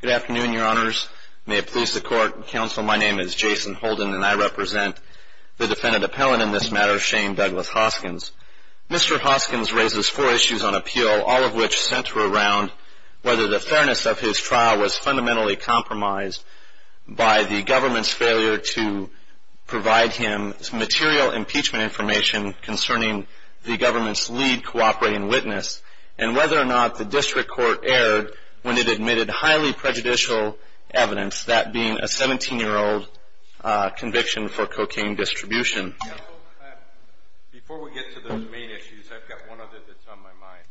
Good afternoon, your honors. May it please the court and counsel, my name is Jason Holden and I represent the defendant appellant in this matter, Shane Douglas Hoskins. Mr. Hoskins raises four issues on appeal, all of which center around whether the fairness of his trial was fundamentally compromised by the government's failure to provide him material impeachment information concerning the government's lead cooperating witness and whether or not the district court erred when it admitted highly prejudicial evidence, that being a seventeen-year-old conviction for cocaine distribution. Before we get to the main issues, I've got one other that's on my mind.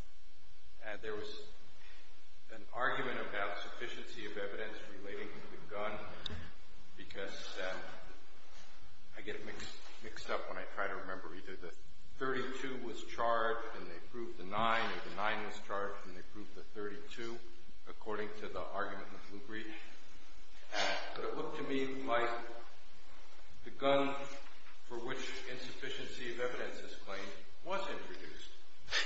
There was an argument about sufficiency of evidence relating to the gun, because I get mixed up when I try to remember either the thirty-two was charged and they proved the nine or the nine was charged and they proved the thirty-two, according to the argument of Blue Breach. But it looked to me like the gun for which insufficiency of evidence is claimed was introduced.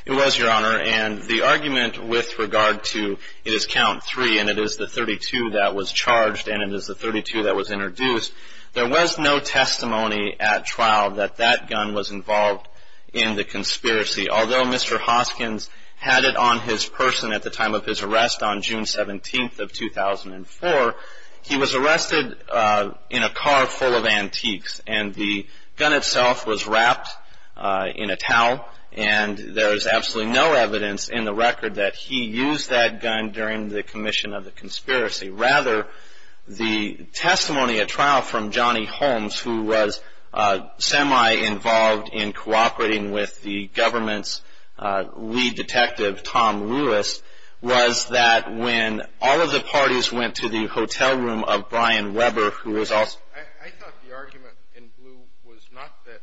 It was, your honor, and the argument with regard to it is count three and it is the thirty-two that was charged and it is the thirty-two that was introduced, there was no testimony at trial that that gun was involved in the conspiracy. Although Mr. Hoskins had it on his person at the time of his arrest on June 17th of 2004, he was arrested in a car full of antiques and the gun itself was that he used that gun during the commission of the conspiracy. Rather, the testimony at trial from Johnny Holmes, who was semi-involved in cooperating with the government's lead detective, Tom Lewis, was that when all of the parties went to the hotel room of Brian Weber, who was also... I thought the argument in Blue was not that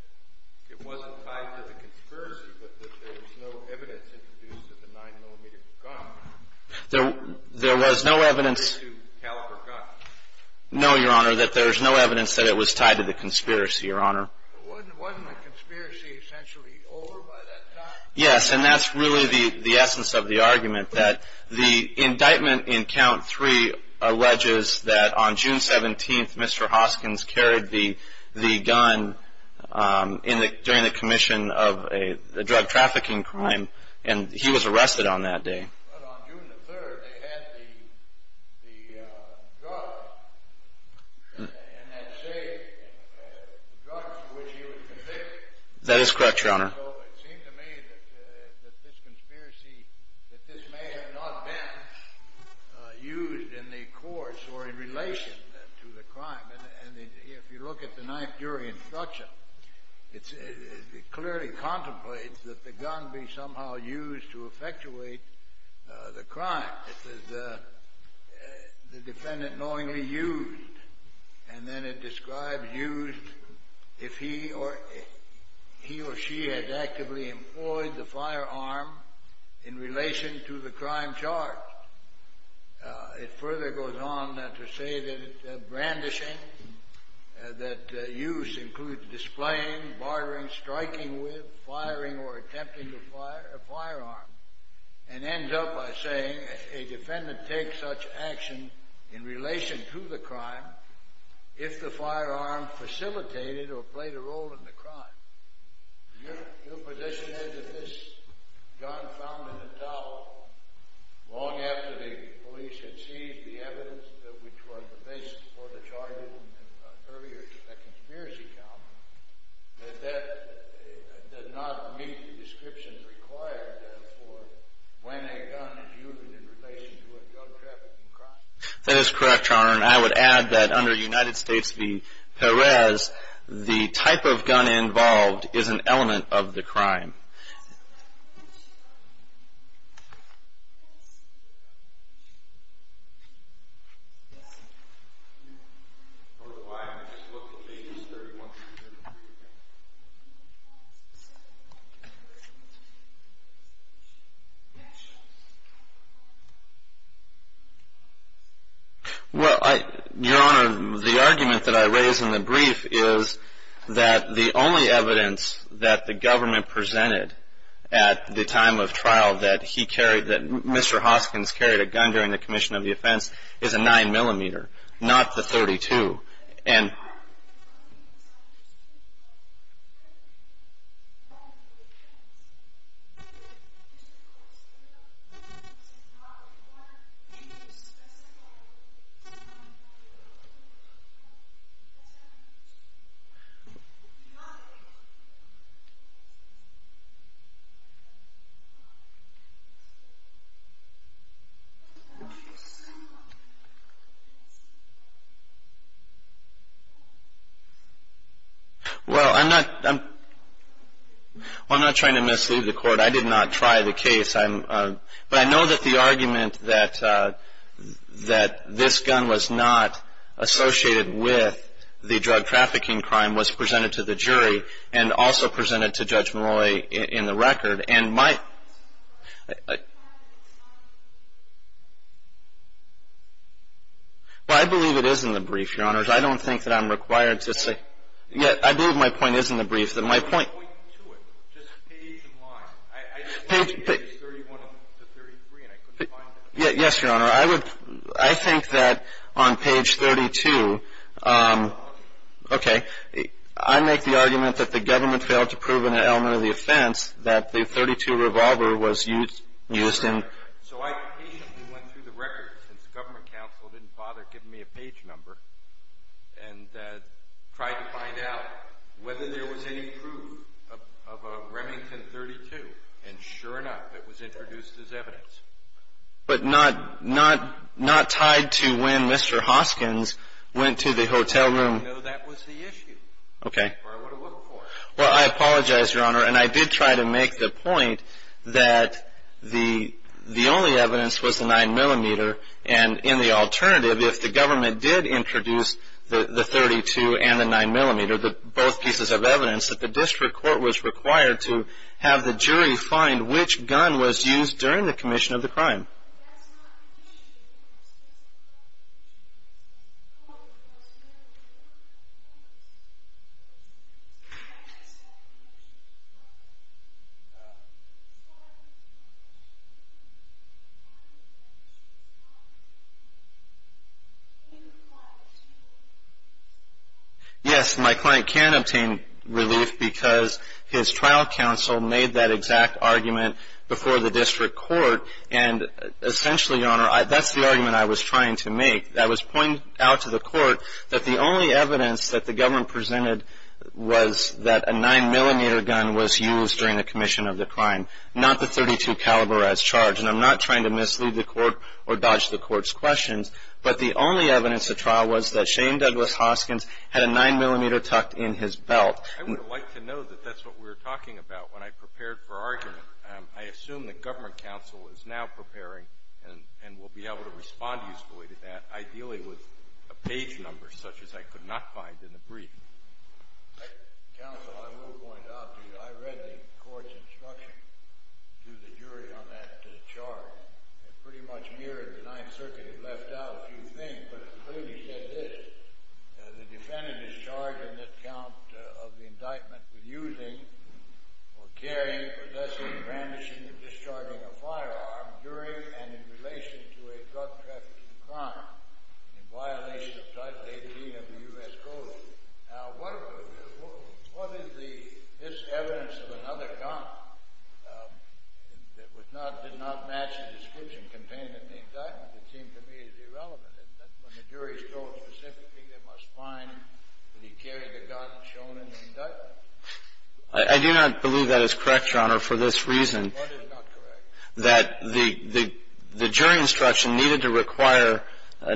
it wasn't tied to the conspiracy, but that it was tied to the gun. There was no evidence... It was tied to Caliper Gun. No, your honor, that there was no evidence that it was tied to the conspiracy, your honor. Wasn't the conspiracy essentially over by that time? Yes, and that's really the essence of the argument, that the indictment in count three alleges that on June 17th, Mr. Hoskins carried the gun during the commission of a drug trafficking crime, and he was arrested on that day. But on June the 3rd, they had the drugs, and that safe, the drugs for which he was convicted. That is correct, your honor. So it seemed to me that this conspiracy, that this may have not been used in the courts or in relation to the crime. And if you look at the ninth jury instruction, it clearly contemplates that the gun be somehow used to effectuate the crime. It says the defendant knowingly used, and then it describes used if he or she has actively employed the firearm in relation to the crime charge. It further goes on to say that it's brandishing, that use includes displaying, bartering, striking with, firing or attempting to fire a firearm, and ends up by saying a defendant takes such action in relation to the crime if the firearm facilitated or played a role in the crime. Your position is that this gun found in the towel long after the police had seized the gun does not meet the description required for when a gun is used in relation to a gun trafficking crime? That is correct, your honor. And I would add that under United States v. Perez, the type of gun involved is an element of the crime. Your honor, the argument that I raise in the brief is that the only evidence that the government presented at the time of trial that Mr. Hoskins carried a gun during the commission of the offense is a 9mm, not the .32. And... Well, I'm not trying to mislead the court. I did not try the case. But I know that the argument that this gun was not associated with the drug trafficking crime was presented to the jury and also presented to Judge Molloy in the record. And my... Well, I believe it is in the brief, your honors. I don't think that I'm required to say... I believe my point is in the brief. Just page and line. I looked at pages 31 to 33 and I couldn't find it. Yes, your honor. I think that on page 32, okay, I make the argument that the government .32 revolver was used in... Sure. So I patiently went through the records since the government counsel didn't bother giving me a page number and tried to find out whether there was any proof of a Remington .32. And sure enough, it was introduced as evidence. But not tied to when Mr. Hoskins went to the hotel room? No, that was the issue. Okay. Or I would have looked for it. Well, I apologize, your honor. And I did try to make the point that the only evidence was the 9mm and in the alternative, if the government did introduce the .32 and the 9mm, both pieces of evidence, that the district court was required to have the jury find which gun was used during the commission of the crime. Yes, my client can obtain relief because his trial counsel made that exact argument before the district court. And essentially, your honor, that's the argument I was trying to make. I was pointing out to the court that the only evidence that the government presented was that a 9mm gun was used during the commission of the crime, not the .32 caliber as charged. And I'm not trying to mislead the court or dodge the court's questions. But the only evidence at trial was that Shane Douglas Hoskins had a 9mm tucked in his belt. I would have liked to know that that's what we were talking about when I prepared for argument. I assume that government counsel is now preparing and will be able to respond usefully to that, ideally with a page number such as I could not find in the brief. Counsel, I will point out to you, I read the court's instruction to the jury on that charge. It pretty much mirrored the Ninth Circuit. It left out a few things, but it clearly said this. The defendant is charged in this count of the indictment with using or carrying, possessing, brandishing, or discharging a firearm during and in relation to a drug trafficking crime in violation of Title 18 of the U.S. Code. Now, what is this evidence of another gun that did not match the description contained in the indictment that seems to me is irrelevant? When the jury is told specifically, they must find that he carried the gun shown in the indictment. I do not believe that is correct, Your Honor, for this reason. What is not correct? That the jury instruction needed to require,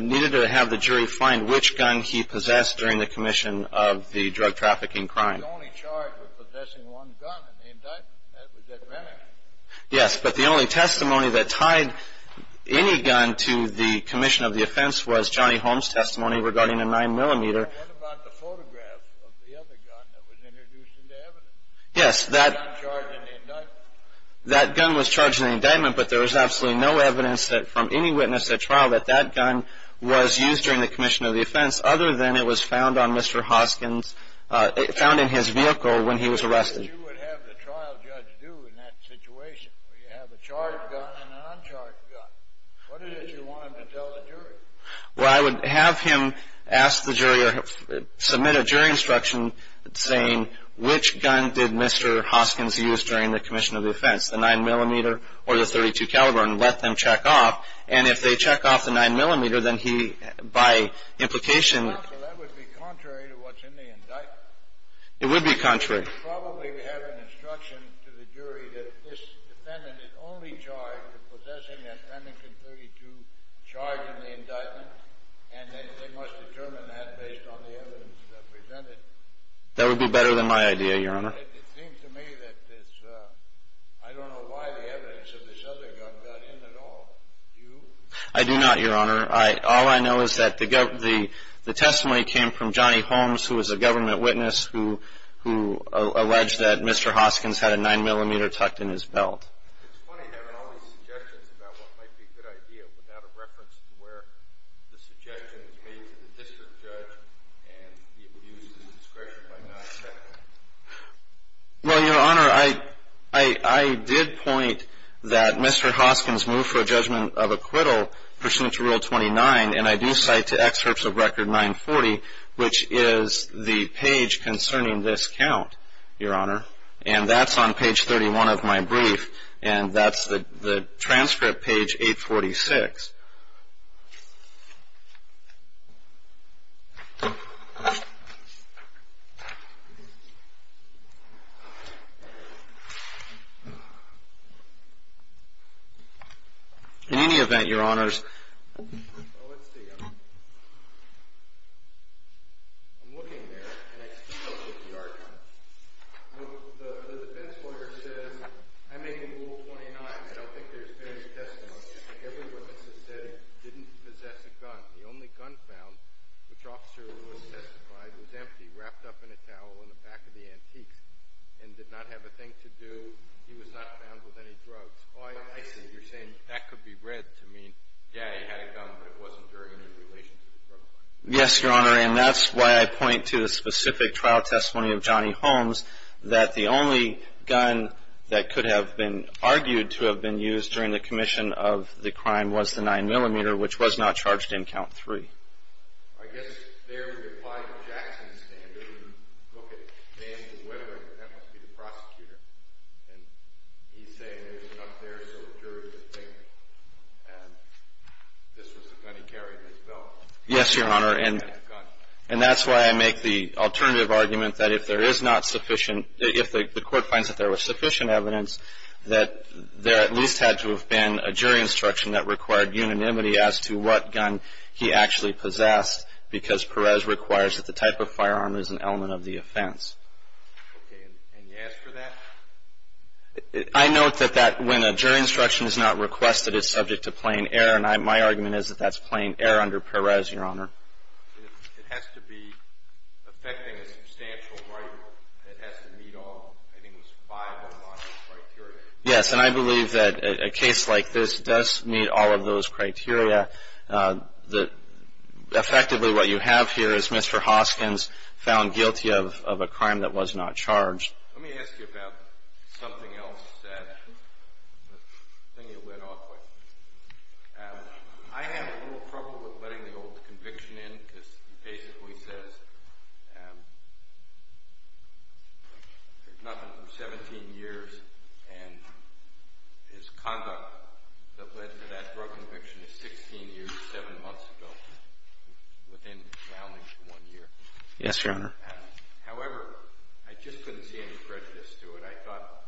needed to have the jury find which gun he possessed during the commission of the drug trafficking crime. The only charge with possessing one gun in the indictment, that was at Renwick. Yes, but the only testimony that tied any gun to the commission of the offense was Johnny Holmes' testimony regarding a 9mm. What about the photograph of the other gun that was introduced into evidence? Yes, that gun was charged in the indictment, but there was absolutely no evidence from any witness at trial that that gun was used during the commission of the offense other than it was found on Mr. Hoskins, found in his vehicle when he was arrested. What would you have the trial judge do in that situation, where you have a charged gun and an uncharged gun? What is it you want him to tell the jury? Well, I would have him ask the jury or submit a jury instruction saying which gun did Mr. Hoskins use during the commission of the offense, the 9mm or the .32 caliber, and let them check off. And if they check off the 9mm, then he, by implication... Well, that would be contrary to what's in the indictment. It would be contrary. You would probably have an instruction to the jury that this defendant is only charged with possessing a .32 charged in the indictment, and they must determine that based on the evidence presented. That would be better than my idea, Your Honor. It seems to me that this... I don't know why the evidence of this other gun got in at all. Do you? I do not, Your Honor. All I know is that the testimony came from Johnny Holmes, who was a government witness, who alleged that Mr. Hoskins had a 9mm tucked in his belt. It's funny having all these suggestions about what might be a good idea without a reference to where the suggestion is made to the district judge and the abuse of discretion by not checking. Well, Your Honor, I did point that Mr. Hoskins moved for a judgment of acquittal pursuant to Rule 29, and I do cite to excerpts of Record 940, which is the page concerning this count, Your Honor, and that's on page 31 of my brief, and that's the transcript page 846. In any event, Your Honors... Well, let's see. I'm looking there, and I still get the argument. The defense lawyer says, I'm making Rule 29. I don't think there's various testimonies. Every witness has said he didn't possess a gun. The only gun found, which Officer Lewis testified, was empty, wrapped up in a towel in the back of the antiques, and did not have a thing to do. He was not found with any drugs. Oh, I see. You're saying that could be read to mean, yeah, he had a gun, but it wasn't during any relation to the crime. Yes, Your Honor, and that's why I point to the specific trial testimony of Johnny Holmes, that the only gun that could have been argued to have been used during the commission of the crime was the 9mm, which was not charged in Count 3. I guess there, we apply the Jackson standard, and look at Danny DeWebber, and that must be the prosecutor, and he's saying there's a gun there, so the jury would think, and this was the gun he carried in his belt. Yes, Your Honor, and that's why I make the alternative argument that if there is not sufficient, if the court finds that there was sufficient evidence, that there at least had to have been a jury instruction that required unanimity as to what gun he actually possessed, because Perez requires that the type of firearm is an element of the offense. Okay, and you ask for that? I note that when a jury instruction is not requested, it's subject to plain error, and my argument is that that's plain error under Perez, Your Honor. It has to be affecting a substantial right that has to meet all, I think it was five or a lot of criteria. Yes, and I believe that a case like this does meet all of those criteria. Effectively, what you have here is Mr. Hoskins found guilty of a crime that was not charged. Let me ask you about something else that I think you went off with. I have a little trouble with letting the old conviction in because he basically says there's nothing for 17 years, and his conduct that led to that drug conviction is 16 years, 7 months ago, within the boundaries of one year. Yes, Your Honor. However, I just couldn't see any prejudice to it. I thought,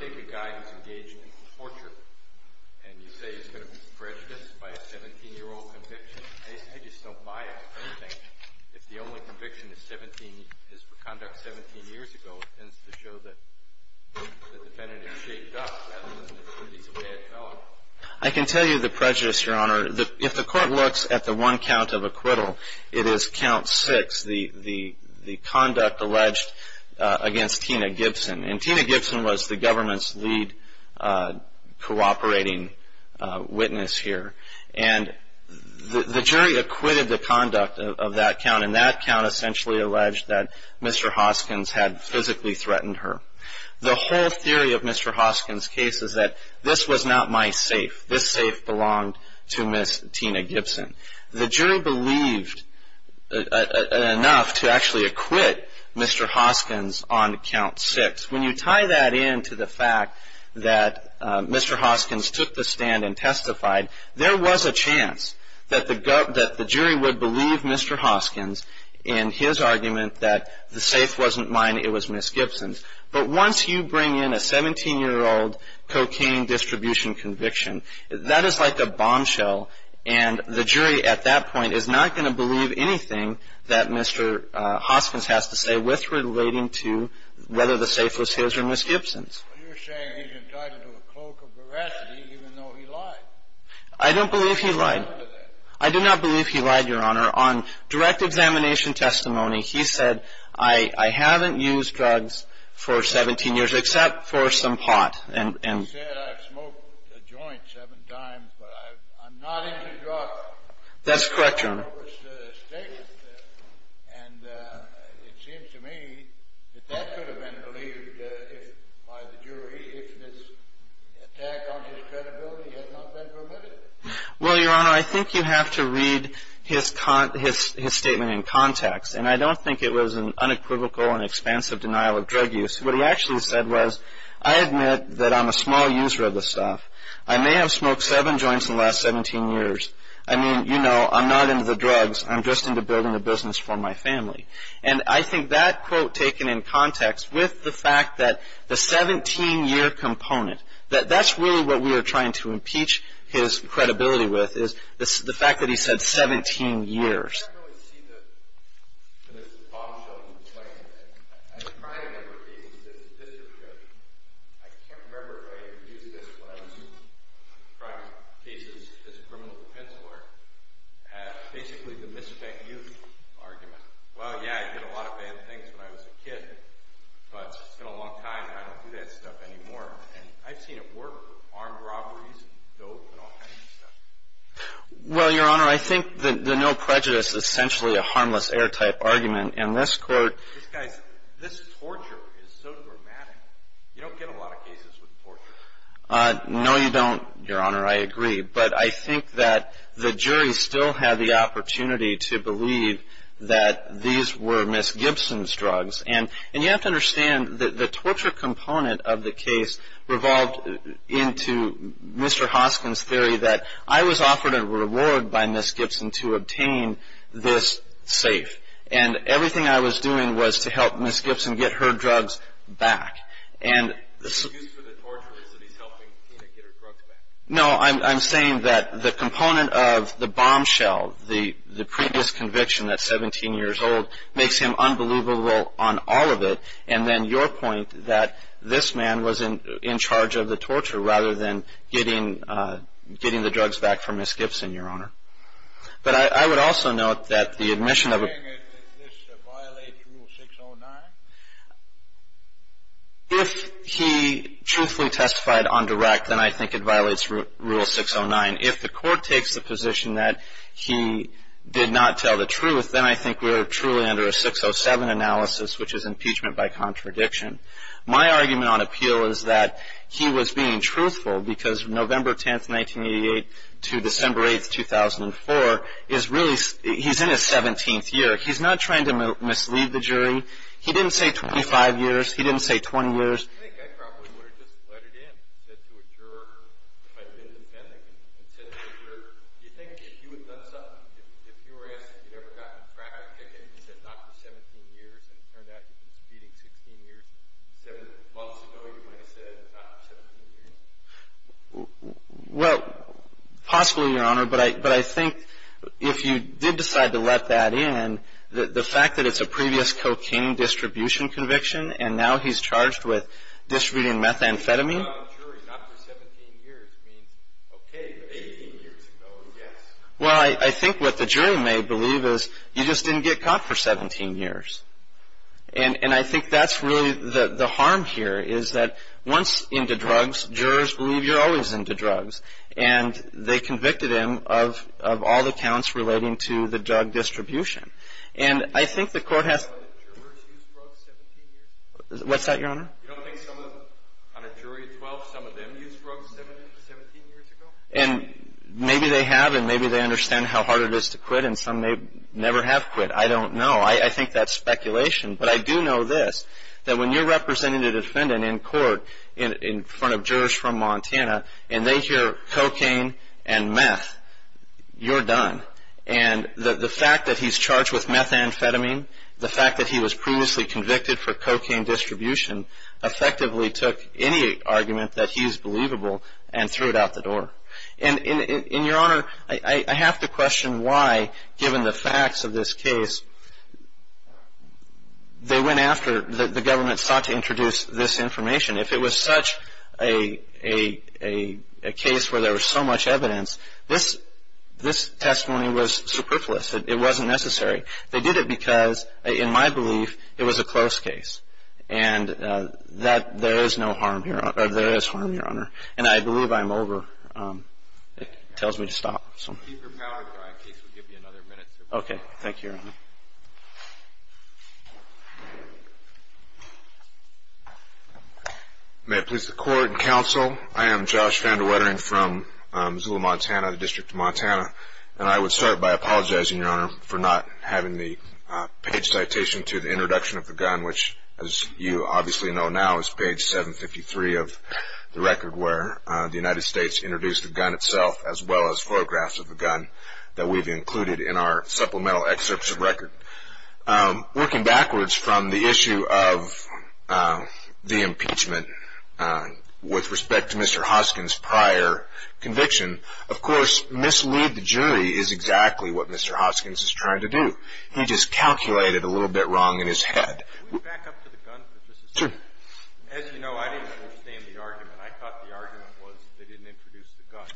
take a guy who's engaged in torture, and you say he's going to be prejudiced by a 17-year-old conviction. I just don't buy it or anything. If the only conviction is for conduct 17 years ago, it tends to show that the defendant is shaped up rather than that he's a bad fellow. I can tell you the prejudice, Your Honor. If the court looks at the one count of acquittal, it is Count 6, the conduct alleged against Tina Gibson. And Tina Gibson was the government's lead cooperating witness here. And the jury acquitted the conduct of that count, and that count essentially alleged that Mr. Hoskins had physically threatened her. The whole theory of Mr. Hoskins' case is that this was not my safe. This safe belonged to Miss Tina Gibson. The jury believed enough to actually acquit Mr. Hoskins on Count 6. When you tie that in to the fact that Mr. Hoskins took the stand and testified, there was a chance that the jury would believe Mr. Hoskins in his argument that the safe wasn't mine, it was Miss Gibson's. But once you bring in a 17-year-old cocaine distribution conviction, that is like a bombshell, and the jury at that point is not going to believe anything that Mr. Hoskins has to say with relating to whether the safe was his or Miss Gibson's. I don't believe he lied. I do not believe he lied, Your Honor. On direct examination testimony, he said, I haven't used drugs for 17 years except for some pot. That's correct, Your Honor. Well, Your Honor, I think you have to read his statement in context, and I don't think it was an unequivocal and expansive denial of drug use. What he actually said was, I admit that I'm a small user of this stuff. I may have smoked seven joints in the last 17 years. I mean, you know, I'm not into the drugs. I'm just into building a business for my family. And I think that quote taken in context with the fact that the 17-year component, that that's really what we are trying to impeach his credibility with, is the fact that he said 17 years. Well, yeah, I did a lot of bad things when I was a kid, but it's been a long time and I don't do that stuff anymore. And I've seen it work with armed robberies and dope and all kinds of stuff. Well, Your Honor, I think the no prejudice is essentially a harmless air-type argument, and this court... This torture is so dramatic. No, you don't, Your Honor. I agree. But, you know, I think that the jury still had the opportunity to believe that these were Ms. Gibson's drugs. And you have to understand that the torture component of the case revolved into Mr. Hoskins' theory that I was offered a reward by Ms. Gibson to obtain this safe. And everything I was doing was to help Ms. Gibson get her drugs back. The excuse for the torture is that he's helping Tina get her drugs back. No, I'm saying that the component of the bombshell, the previous conviction that's 17 years old, makes him unbelievable on all of it, and then your point that this man was in charge of the torture rather than getting the drugs back from Ms. Gibson, Your Honor. But I would also note that the admission of... Do you think this violates Rule 609? If he truthfully testified on direct, then I think it violates Rule 609. If the court takes the position that he did not tell the truth, then I think we're truly under a 607 analysis, which is impeachment by contradiction. My argument on appeal is that he was being truthful because November 10, 1988, to December 8, 2004, is really... He's in his 17th year. He's not trying to mislead the jury. He didn't say 25 years. He didn't say 20 years. I think I probably would have just let it in, said to a juror if I'd been dependent, and said to a juror... Do you think if you had done something... If you were asked if you'd ever gotten a traffic ticket and said not for 17 years, and it turned out you'd been speeding 16 years, seven months ago, you might have said not for 17 years? Well, possibly, Your Honor, but I think if you did decide to let that in, the fact that it's a previous cocaine distribution conviction, and now he's charged with distributing methamphetamine... But if you tell the jury not for 17 years, it means, okay, but 18 years ago, yes? Well, I think what the jury may believe is you just didn't get caught for 17 years. And I think that's really the harm here, is that once into drugs, jurors believe you're always into drugs, and they convicted him of all the counts relating to the drug distribution. And I think the court has... What's that, Your Honor? You don't think on a jury of 12, some of them used drugs 17 years ago? And maybe they have, and maybe they understand how hard it is to quit, and some may never have quit. I don't know. I think that's speculation. But I do know this, that when you're representing a defendant in court in front of jurors from Montana, and they hear cocaine and meth, you're done. And the fact that he's charged with methamphetamine, the fact that he was previously convicted for cocaine distribution, effectively took any argument that he is believable and threw it out the door. And, Your Honor, I have to question why, given the facts of this case, they went after... The government sought to introduce this information. If it was such a case where there was so much evidence, this testimony was superfluous. It wasn't necessary. They did it because, in my belief, it was a close case. And there is no harm here, or there is harm, Your Honor. And I believe I'm over. It tells me to stop. Keep your power dry, in case we give you another minute. Okay. Thank you, Your Honor. May it please the Court and Counsel, I am Josh Van de Wetering from Missoula, Montana, the District of Montana, and I would start by apologizing, Your Honor, for not having the page citation to the introduction of the gun, which, as you obviously know now, is page 753 of the record, where the United States introduced the gun itself, as well as photographs of the gun, that we've included in our supplemental excerpts of record. Working backwards from the issue of the impeachment, with respect to Mr. Hoskins' prior conviction, of course, mislead the jury is exactly what Mr. Hoskins is trying to do. He just calculated a little bit wrong in his head. Can we back up to the gun for just a second? Sure. As you know, I didn't understand the argument. I thought the argument was they didn't introduce the gun,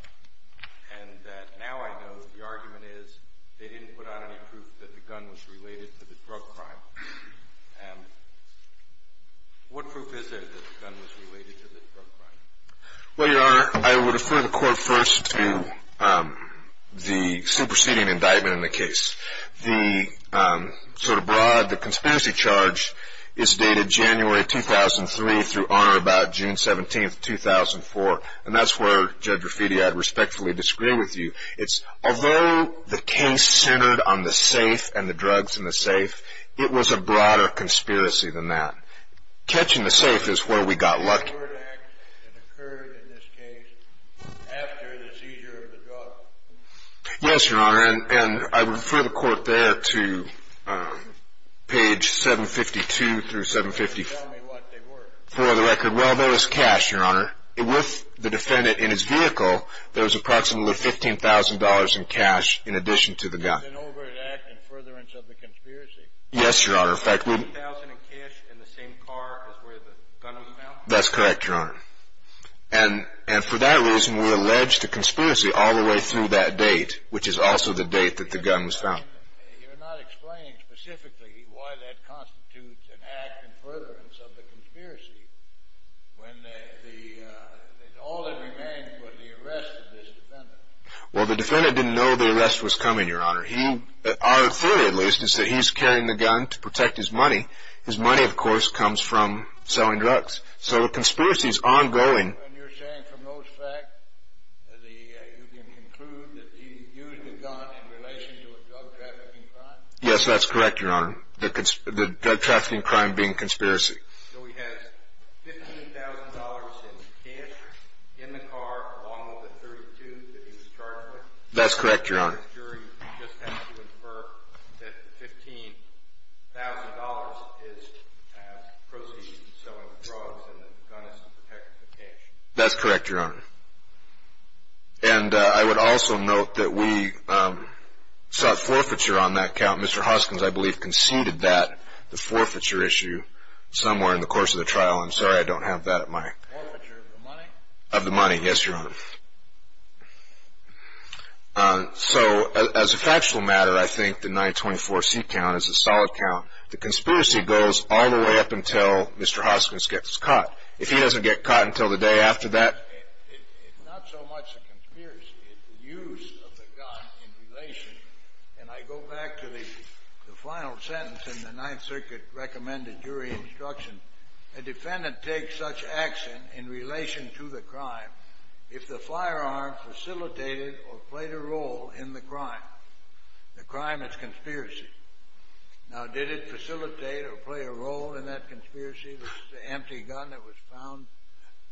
and that now I know the argument is they didn't put out any proof that the gun was related to the drug crime. And what proof is there that the gun was related to the drug crime? Well, Your Honor, I would refer the court first to the superseding indictment in the case. The sort of broad conspiracy charge is dated January 2003 through, on or about June 17, 2004, and that's where, Judge Rafiti, I'd respectfully disagree with you. Although the case centered on the safe and the drugs in the safe, it was a broader conspiracy than that. Catching the safe is where we got lucky. Yes, Your Honor, and I refer the court there to page 752 through 754 of the record. Well, there was cash, Your Honor. With the defendant in his vehicle, there was approximately $15,000 in cash in addition to the gun. Yes, Your Honor. $15,000 in cash in the same car as where the gun was found? That's correct, Your Honor. And for that reason, we allege the conspiracy all the way through that date, which is also the date that the gun was found. You're not explaining specifically why that constitutes an act in furtherance of the conspiracy when all that remained was the arrest of this defendant. Well, the defendant didn't know the arrest was coming, Your Honor. Our theory, at least, is that he's carrying the gun to protect his money. His money, of course, comes from selling drugs. So the conspiracy is ongoing. And you're saying from those facts, you can conclude that he used the gun in relation to a drug-trafficking crime? Yes, that's correct, Your Honor, the drug-trafficking crime being conspiracy. So he has $15,000 in cash in the car along with the .32 that he was charged with? That's correct, Your Honor. And the jury just has to infer that the $15,000 is proceeds from selling drugs and the gun is to protect the cash? That's correct, Your Honor. And I would also note that we sought forfeiture on that count. Mr. Hoskins, I believe, conceded that, the forfeiture issue, somewhere in the course of the trial. I'm sorry I don't have that at my – Forfeiture of the money? Of the money, yes, Your Honor. So as a factual matter, I think the 924C count is a solid count. The conspiracy goes all the way up until Mr. Hoskins gets caught. If he doesn't get caught until the day after that – It's not so much the conspiracy. It's the use of the gun in relation. And I go back to the final sentence in the Ninth Circuit recommended jury instruction. A defendant takes such action in relation to the crime if the firearm facilitated or played a role in the crime. The crime is conspiracy. Now, did it facilitate or play a role in that conspiracy, the empty gun that was found?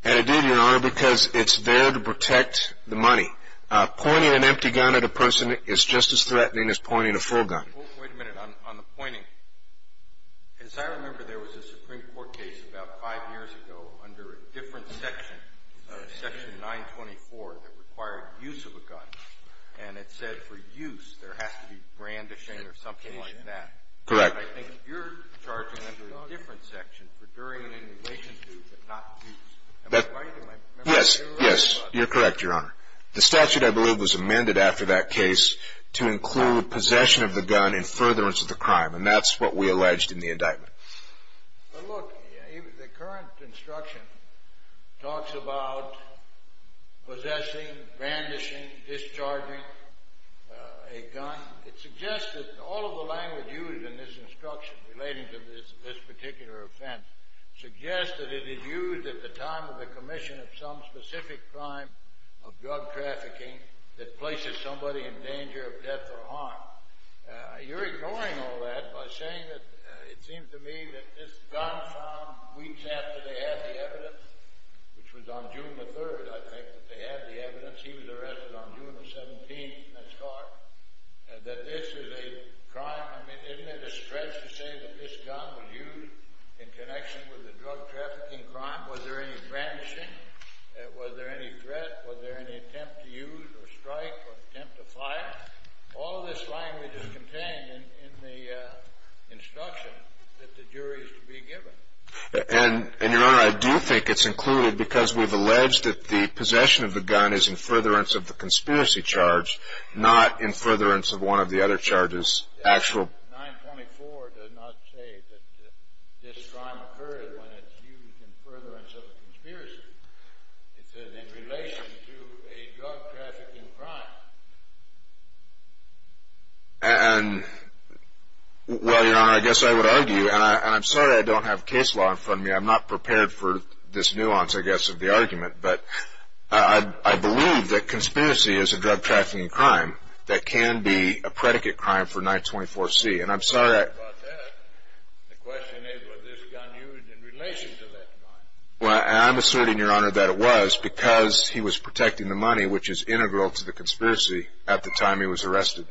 And it did, Your Honor, because it's there to protect the money. Pointing an empty gun at a person is just as threatening as pointing a full gun. Wait a minute. On the pointing, as I remember, there was a Supreme Court case about five years ago under a different section, Section 924, that required use of a gun, and it said for use there has to be brandishing or something like that. Correct. I think you're charging under a different section for during and in relation to, but not use. Am I right? Yes, yes. You're correct, Your Honor. The statute, I believe, was amended after that case to include possession of the gun in furtherance of the crime, and that's what we alleged in the indictment. But look, the current instruction talks about possessing, brandishing, discharging a gun. It suggests that all of the language used in this instruction relating to this particular offense suggests that it is used at the time of the commission of some specific crime of drug trafficking that places somebody in danger of death or harm. You're ignoring all that by saying that it seems to me that this gun found weeks after they had the evidence, which was on June the 3rd, I think, that they had the evidence. He was arrested on June the 17th, and that this is a crime. I mean, isn't it a stretch to say that this gun was used in connection with a drug trafficking crime? Was there any brandishing? Was there any threat? Was there any attempt to use or strike or attempt to fire? All this language is contained in the instruction that the jury is to be given. And, Your Honor, I do think it's included because we've alleged that the possession of the gun is in furtherance of the conspiracy charge, not in furtherance of one of the other charges, actual. 924 does not say that this crime occurred when it's used in furtherance of a conspiracy. It says in relation to a drug trafficking crime. And, well, Your Honor, I guess I would argue, and I'm sorry I don't have case law in front of me. I'm not prepared for this nuance, I guess, of the argument. But I believe that conspiracy is a drug trafficking crime that can be a predicate crime for 924C. And I'm sorry I – The question is, was this gun used in relation to that crime? Well, I'm asserting, Your Honor, that it was because he was protecting the money, which is integral to the conspiracy at the time he was arrested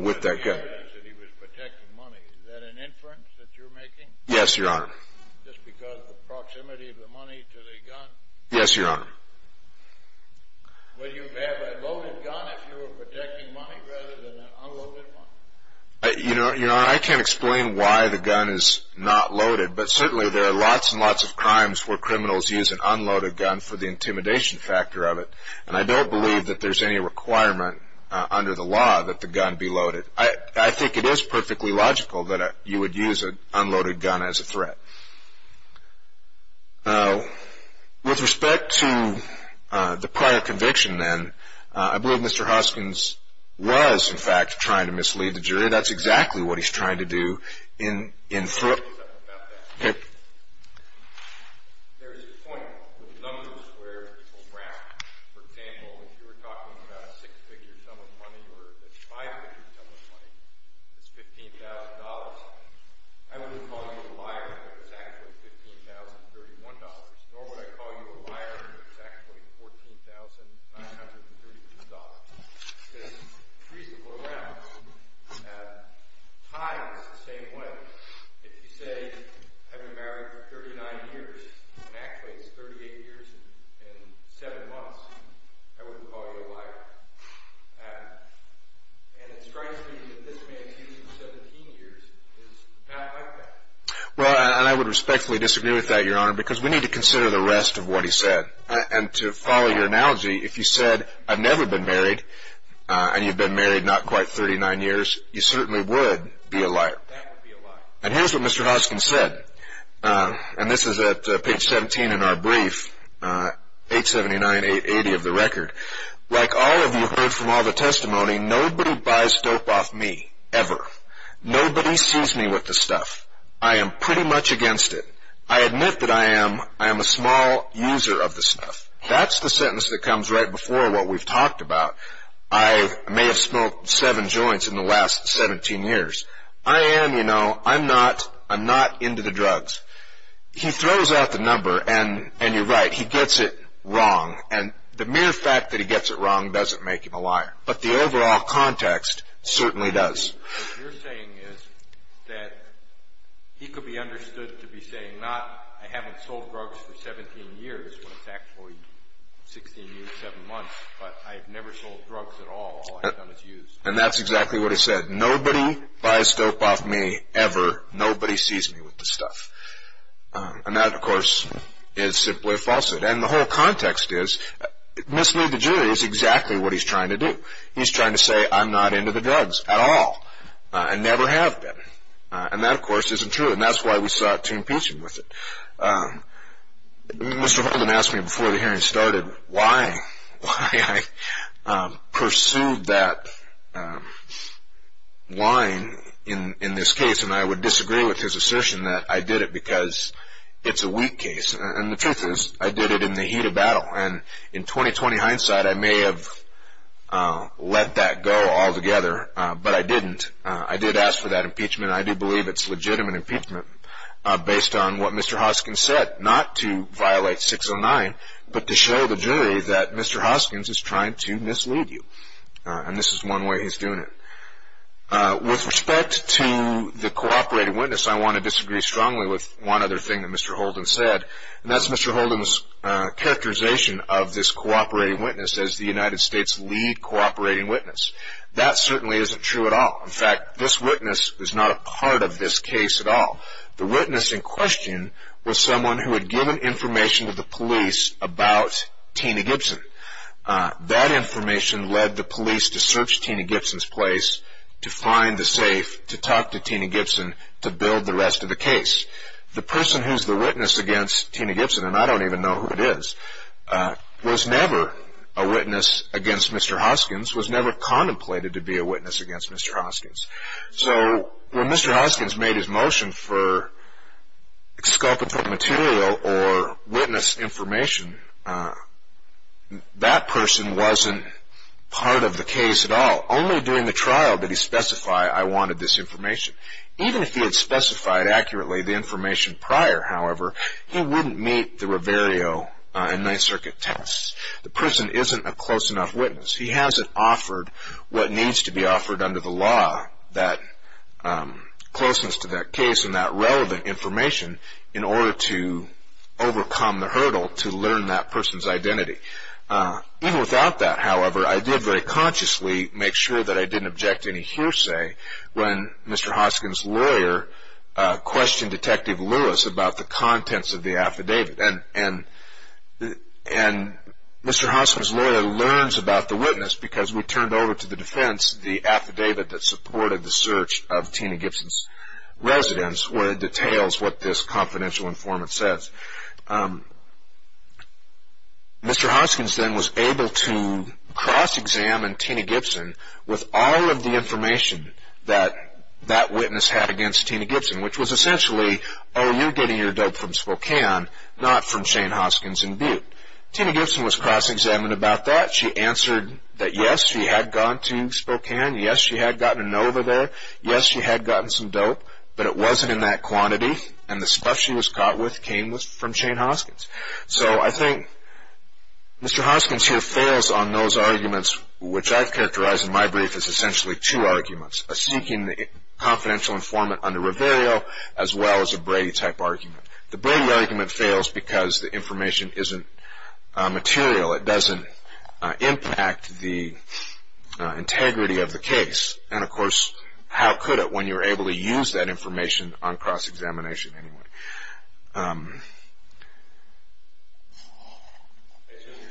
with that gun. He was protecting money. Is that an inference that you're making? Yes, Your Honor. Just because of the proximity of the money to the gun? Yes, Your Honor. Would you have a loaded gun if you were protecting money rather than an unloaded one? You know, Your Honor, I can't explain why the gun is not loaded. But certainly there are lots and lots of crimes where criminals use an unloaded gun for the intimidation factor of it. And I don't believe that there's any requirement under the law that the gun be loaded. I think it is perfectly logical that you would use an unloaded gun as a threat. Now, with respect to the prior conviction then, I believe Mr. Hoskins was, in fact, trying to mislead the jury. That's exactly what he's trying to do in – Let me say something about that. Okay. There is a point with numbers where people brag. For example, if you were talking about a six-figure sum of money or a five-figure sum of money that's $15,000, I wouldn't call you a liar if it was actually $15,031, nor would I call you a liar if it was actually $14,931. Because the trees that go around tie in the same way. If you say, I've been married for 39 years, and actually it's 38 years and 7 months, I wouldn't call you a liar. And it strikes me that this man's use of 17 years is not like that. Well, and I would respectfully disagree with that, Your Honor, because we need to consider the rest of what he said. And to follow your analogy, if you said, I've never been married, and you've been married not quite 39 years, you certainly would be a liar. That would be a liar. And here's what Mr. Hoskin said, and this is at page 17 in our brief, 879.880 of the record. Like all of you heard from all the testimony, nobody buys dope off me, ever. Nobody sees me with the stuff. I am pretty much against it. I admit that I am a small user of the stuff. That's the sentence that comes right before what we've talked about. I may have smoked seven joints in the last 17 years. I am, you know, I'm not, I'm not into the drugs. He throws out the number, and you're right, he gets it wrong. And the mere fact that he gets it wrong doesn't make him a liar. But the overall context certainly does. What you're saying is that he could be understood to be saying not, I haven't sold drugs for 17 years when it's actually 16 years, 7 months, but I've never sold drugs at all, all I've done is use. And that's exactly what he said. Nobody buys dope off me, ever. Nobody sees me with the stuff. And that, of course, is simply a falsehood. And the whole context is, mislead the jury is exactly what he's trying to do. He's trying to say I'm not into the drugs at all, and never have been. And that, of course, isn't true, and that's why we sought to impeach him with it. Mr. Holden asked me before the hearing started why, why I pursued that line in this case. And I would disagree with his assertion that I did it because it's a weak case. And the truth is, I did it in the heat of battle. And in 20-20 hindsight, I may have let that go altogether, but I didn't. I did ask for that impeachment. I do believe it's legitimate impeachment based on what Mr. Hoskins said, not to violate 609, but to show the jury that Mr. Hoskins is trying to mislead you. And this is one way he's doing it. With respect to the cooperating witness, I want to disagree strongly with one other thing that Mr. Holden said. And that's Mr. Holden's characterization of this cooperating witness as the United States' lead cooperating witness. That certainly isn't true at all. In fact, this witness is not a part of this case at all. The witness in question was someone who had given information to the police about Tina Gibson. That information led the police to search Tina Gibson's place to find the safe to talk to Tina Gibson to build the rest of the case. The person who's the witness against Tina Gibson, and I don't even know who it is, was never a witness against Mr. Hoskins, was never contemplated to be a witness against Mr. Hoskins. So when Mr. Hoskins made his motion for exculpatory material or witness information, that person wasn't part of the case at all. Only during the trial did he specify, I wanted this information. Even if he had specified accurately the information prior, however, he wouldn't meet the Rivero and Ninth Circuit tests. The person isn't a close enough witness. He hasn't offered what needs to be offered under the law, that closeness to that case and that relevant information, in order to overcome the hurdle to learn that person's identity. Even without that, however, I did very consciously make sure that I didn't object to any hearsay when Mr. Hoskins' lawyer questioned Detective Lewis about the contents of the affidavit. And Mr. Hoskins' lawyer learns about the witness because we turned over to the defense the affidavit that supported the search of Tina Gibson's residence, where it details what this confidential informant says. Mr. Hoskins then was able to cross-examine Tina Gibson with all of the information that that witness had against Tina Gibson, which was essentially, oh, you're getting your dope from Spokane, not from Shane Hoskins in Butte. Tina Gibson was cross-examined about that. She answered that, yes, she had gone to Spokane. Yes, she had gotten an over there. Yes, she had gotten some dope, but it wasn't in that quantity, and the stuff she was caught with came from Shane Hoskins. So I think Mr. Hoskins here fails on those arguments, which I've characterized in my brief as essentially two arguments, a seeking confidential informant under Riverio as well as a Brady-type argument. The Brady argument fails because the information isn't material. It doesn't impact the integrity of the case, and, of course, how could it when you're able to use that information on cross-examination anyway? I assume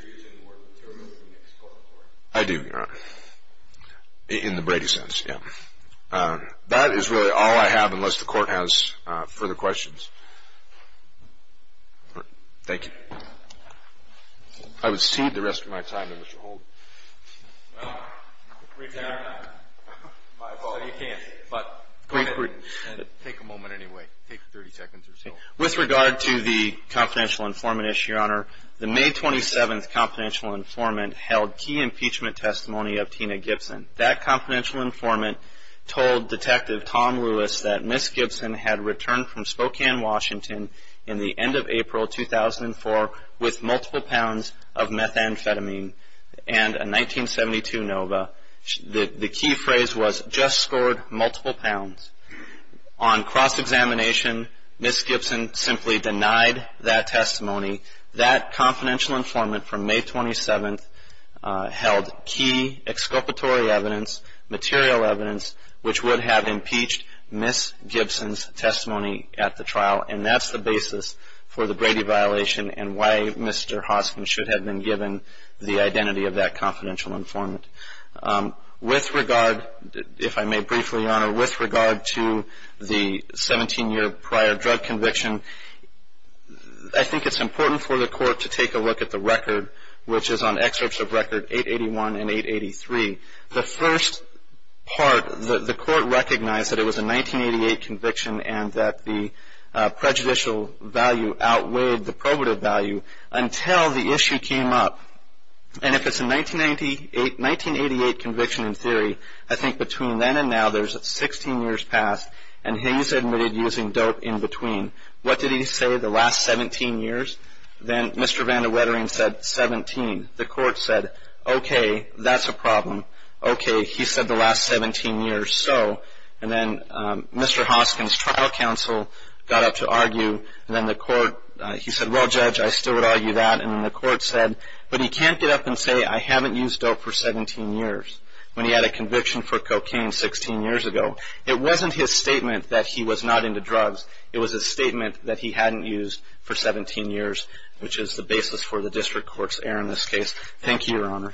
you're using the word material in the next court report. I do, Your Honor, in the Brady sense, yes. That is really all I have unless the Court has further questions. Thank you. I would cede the rest of my time to Mr. Holden. Well, my fault. You can't, but go ahead and take a moment anyway. Take 30 seconds or so. With regard to the confidential informant issue, Your Honor, the May 27th confidential informant held key impeachment testimony of Tina Gibson. That confidential informant told Detective Tom Lewis that Miss Gibson had returned from Spokane, Washington, in the end of April 2004 with multiple pounds of methamphetamine and a 1972 Nova. The key phrase was, just scored multiple pounds. On cross-examination, Miss Gibson simply denied that testimony. That confidential informant from May 27th held key exculpatory evidence, material evidence, which would have impeached Miss Gibson's testimony at the trial, and that's the basis for the Brady violation and why Mr. Hoskin should have been given the identity of that confidential informant. With regard, if I may briefly, Your Honor, with regard to the 17-year prior drug conviction, I think it's important for the Court to take a look at the record, which is on excerpts of record 881 and 883. The first part, the Court recognized that it was a 1988 conviction and that the prejudicial value outweighed the probative value until the issue came up. And if it's a 1988 conviction in theory, I think between then and now, there's 16 years past, and Hayes admitted using dope in between. What did he say the last 17 years? Then Mr. Van de Wettering said 17. The Court said, okay, that's a problem. Okay, he said the last 17 years, so, and then Mr. Hoskin's trial counsel got up to argue, and then the Court, he said, well, Judge, I still would argue that, and then the Court said, but he can't get up and say I haven't used dope for 17 years when he had a conviction for cocaine 16 years ago. It wasn't his statement that he was not into drugs. It was a statement that he hadn't used for 17 years, which is the basis for the district court's error in this case. Thank you, Counsel.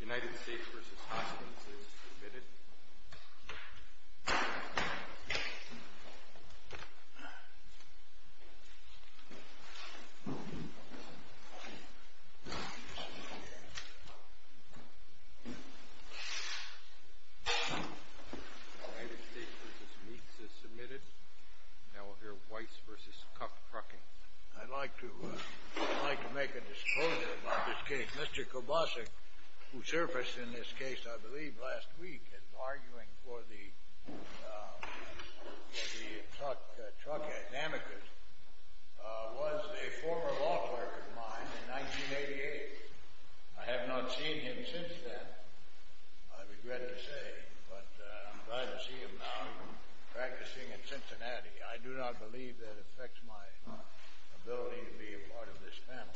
United States v. Hoskins is submitted. United States v. Meeks is submitted. Now we'll hear Weiss v. Kupfkrucking. I'd like to make a disclosure about this case. Mr. Kupfkrucking, who surfaced in this case, I believe, last week, in arguing for the truck amicus, was a former law clerk of mine in 1988. I have not seen him since then, I regret to say, but I'm glad to see him now practicing in Cincinnati. I do not believe that affects my ability to be a part of this panel.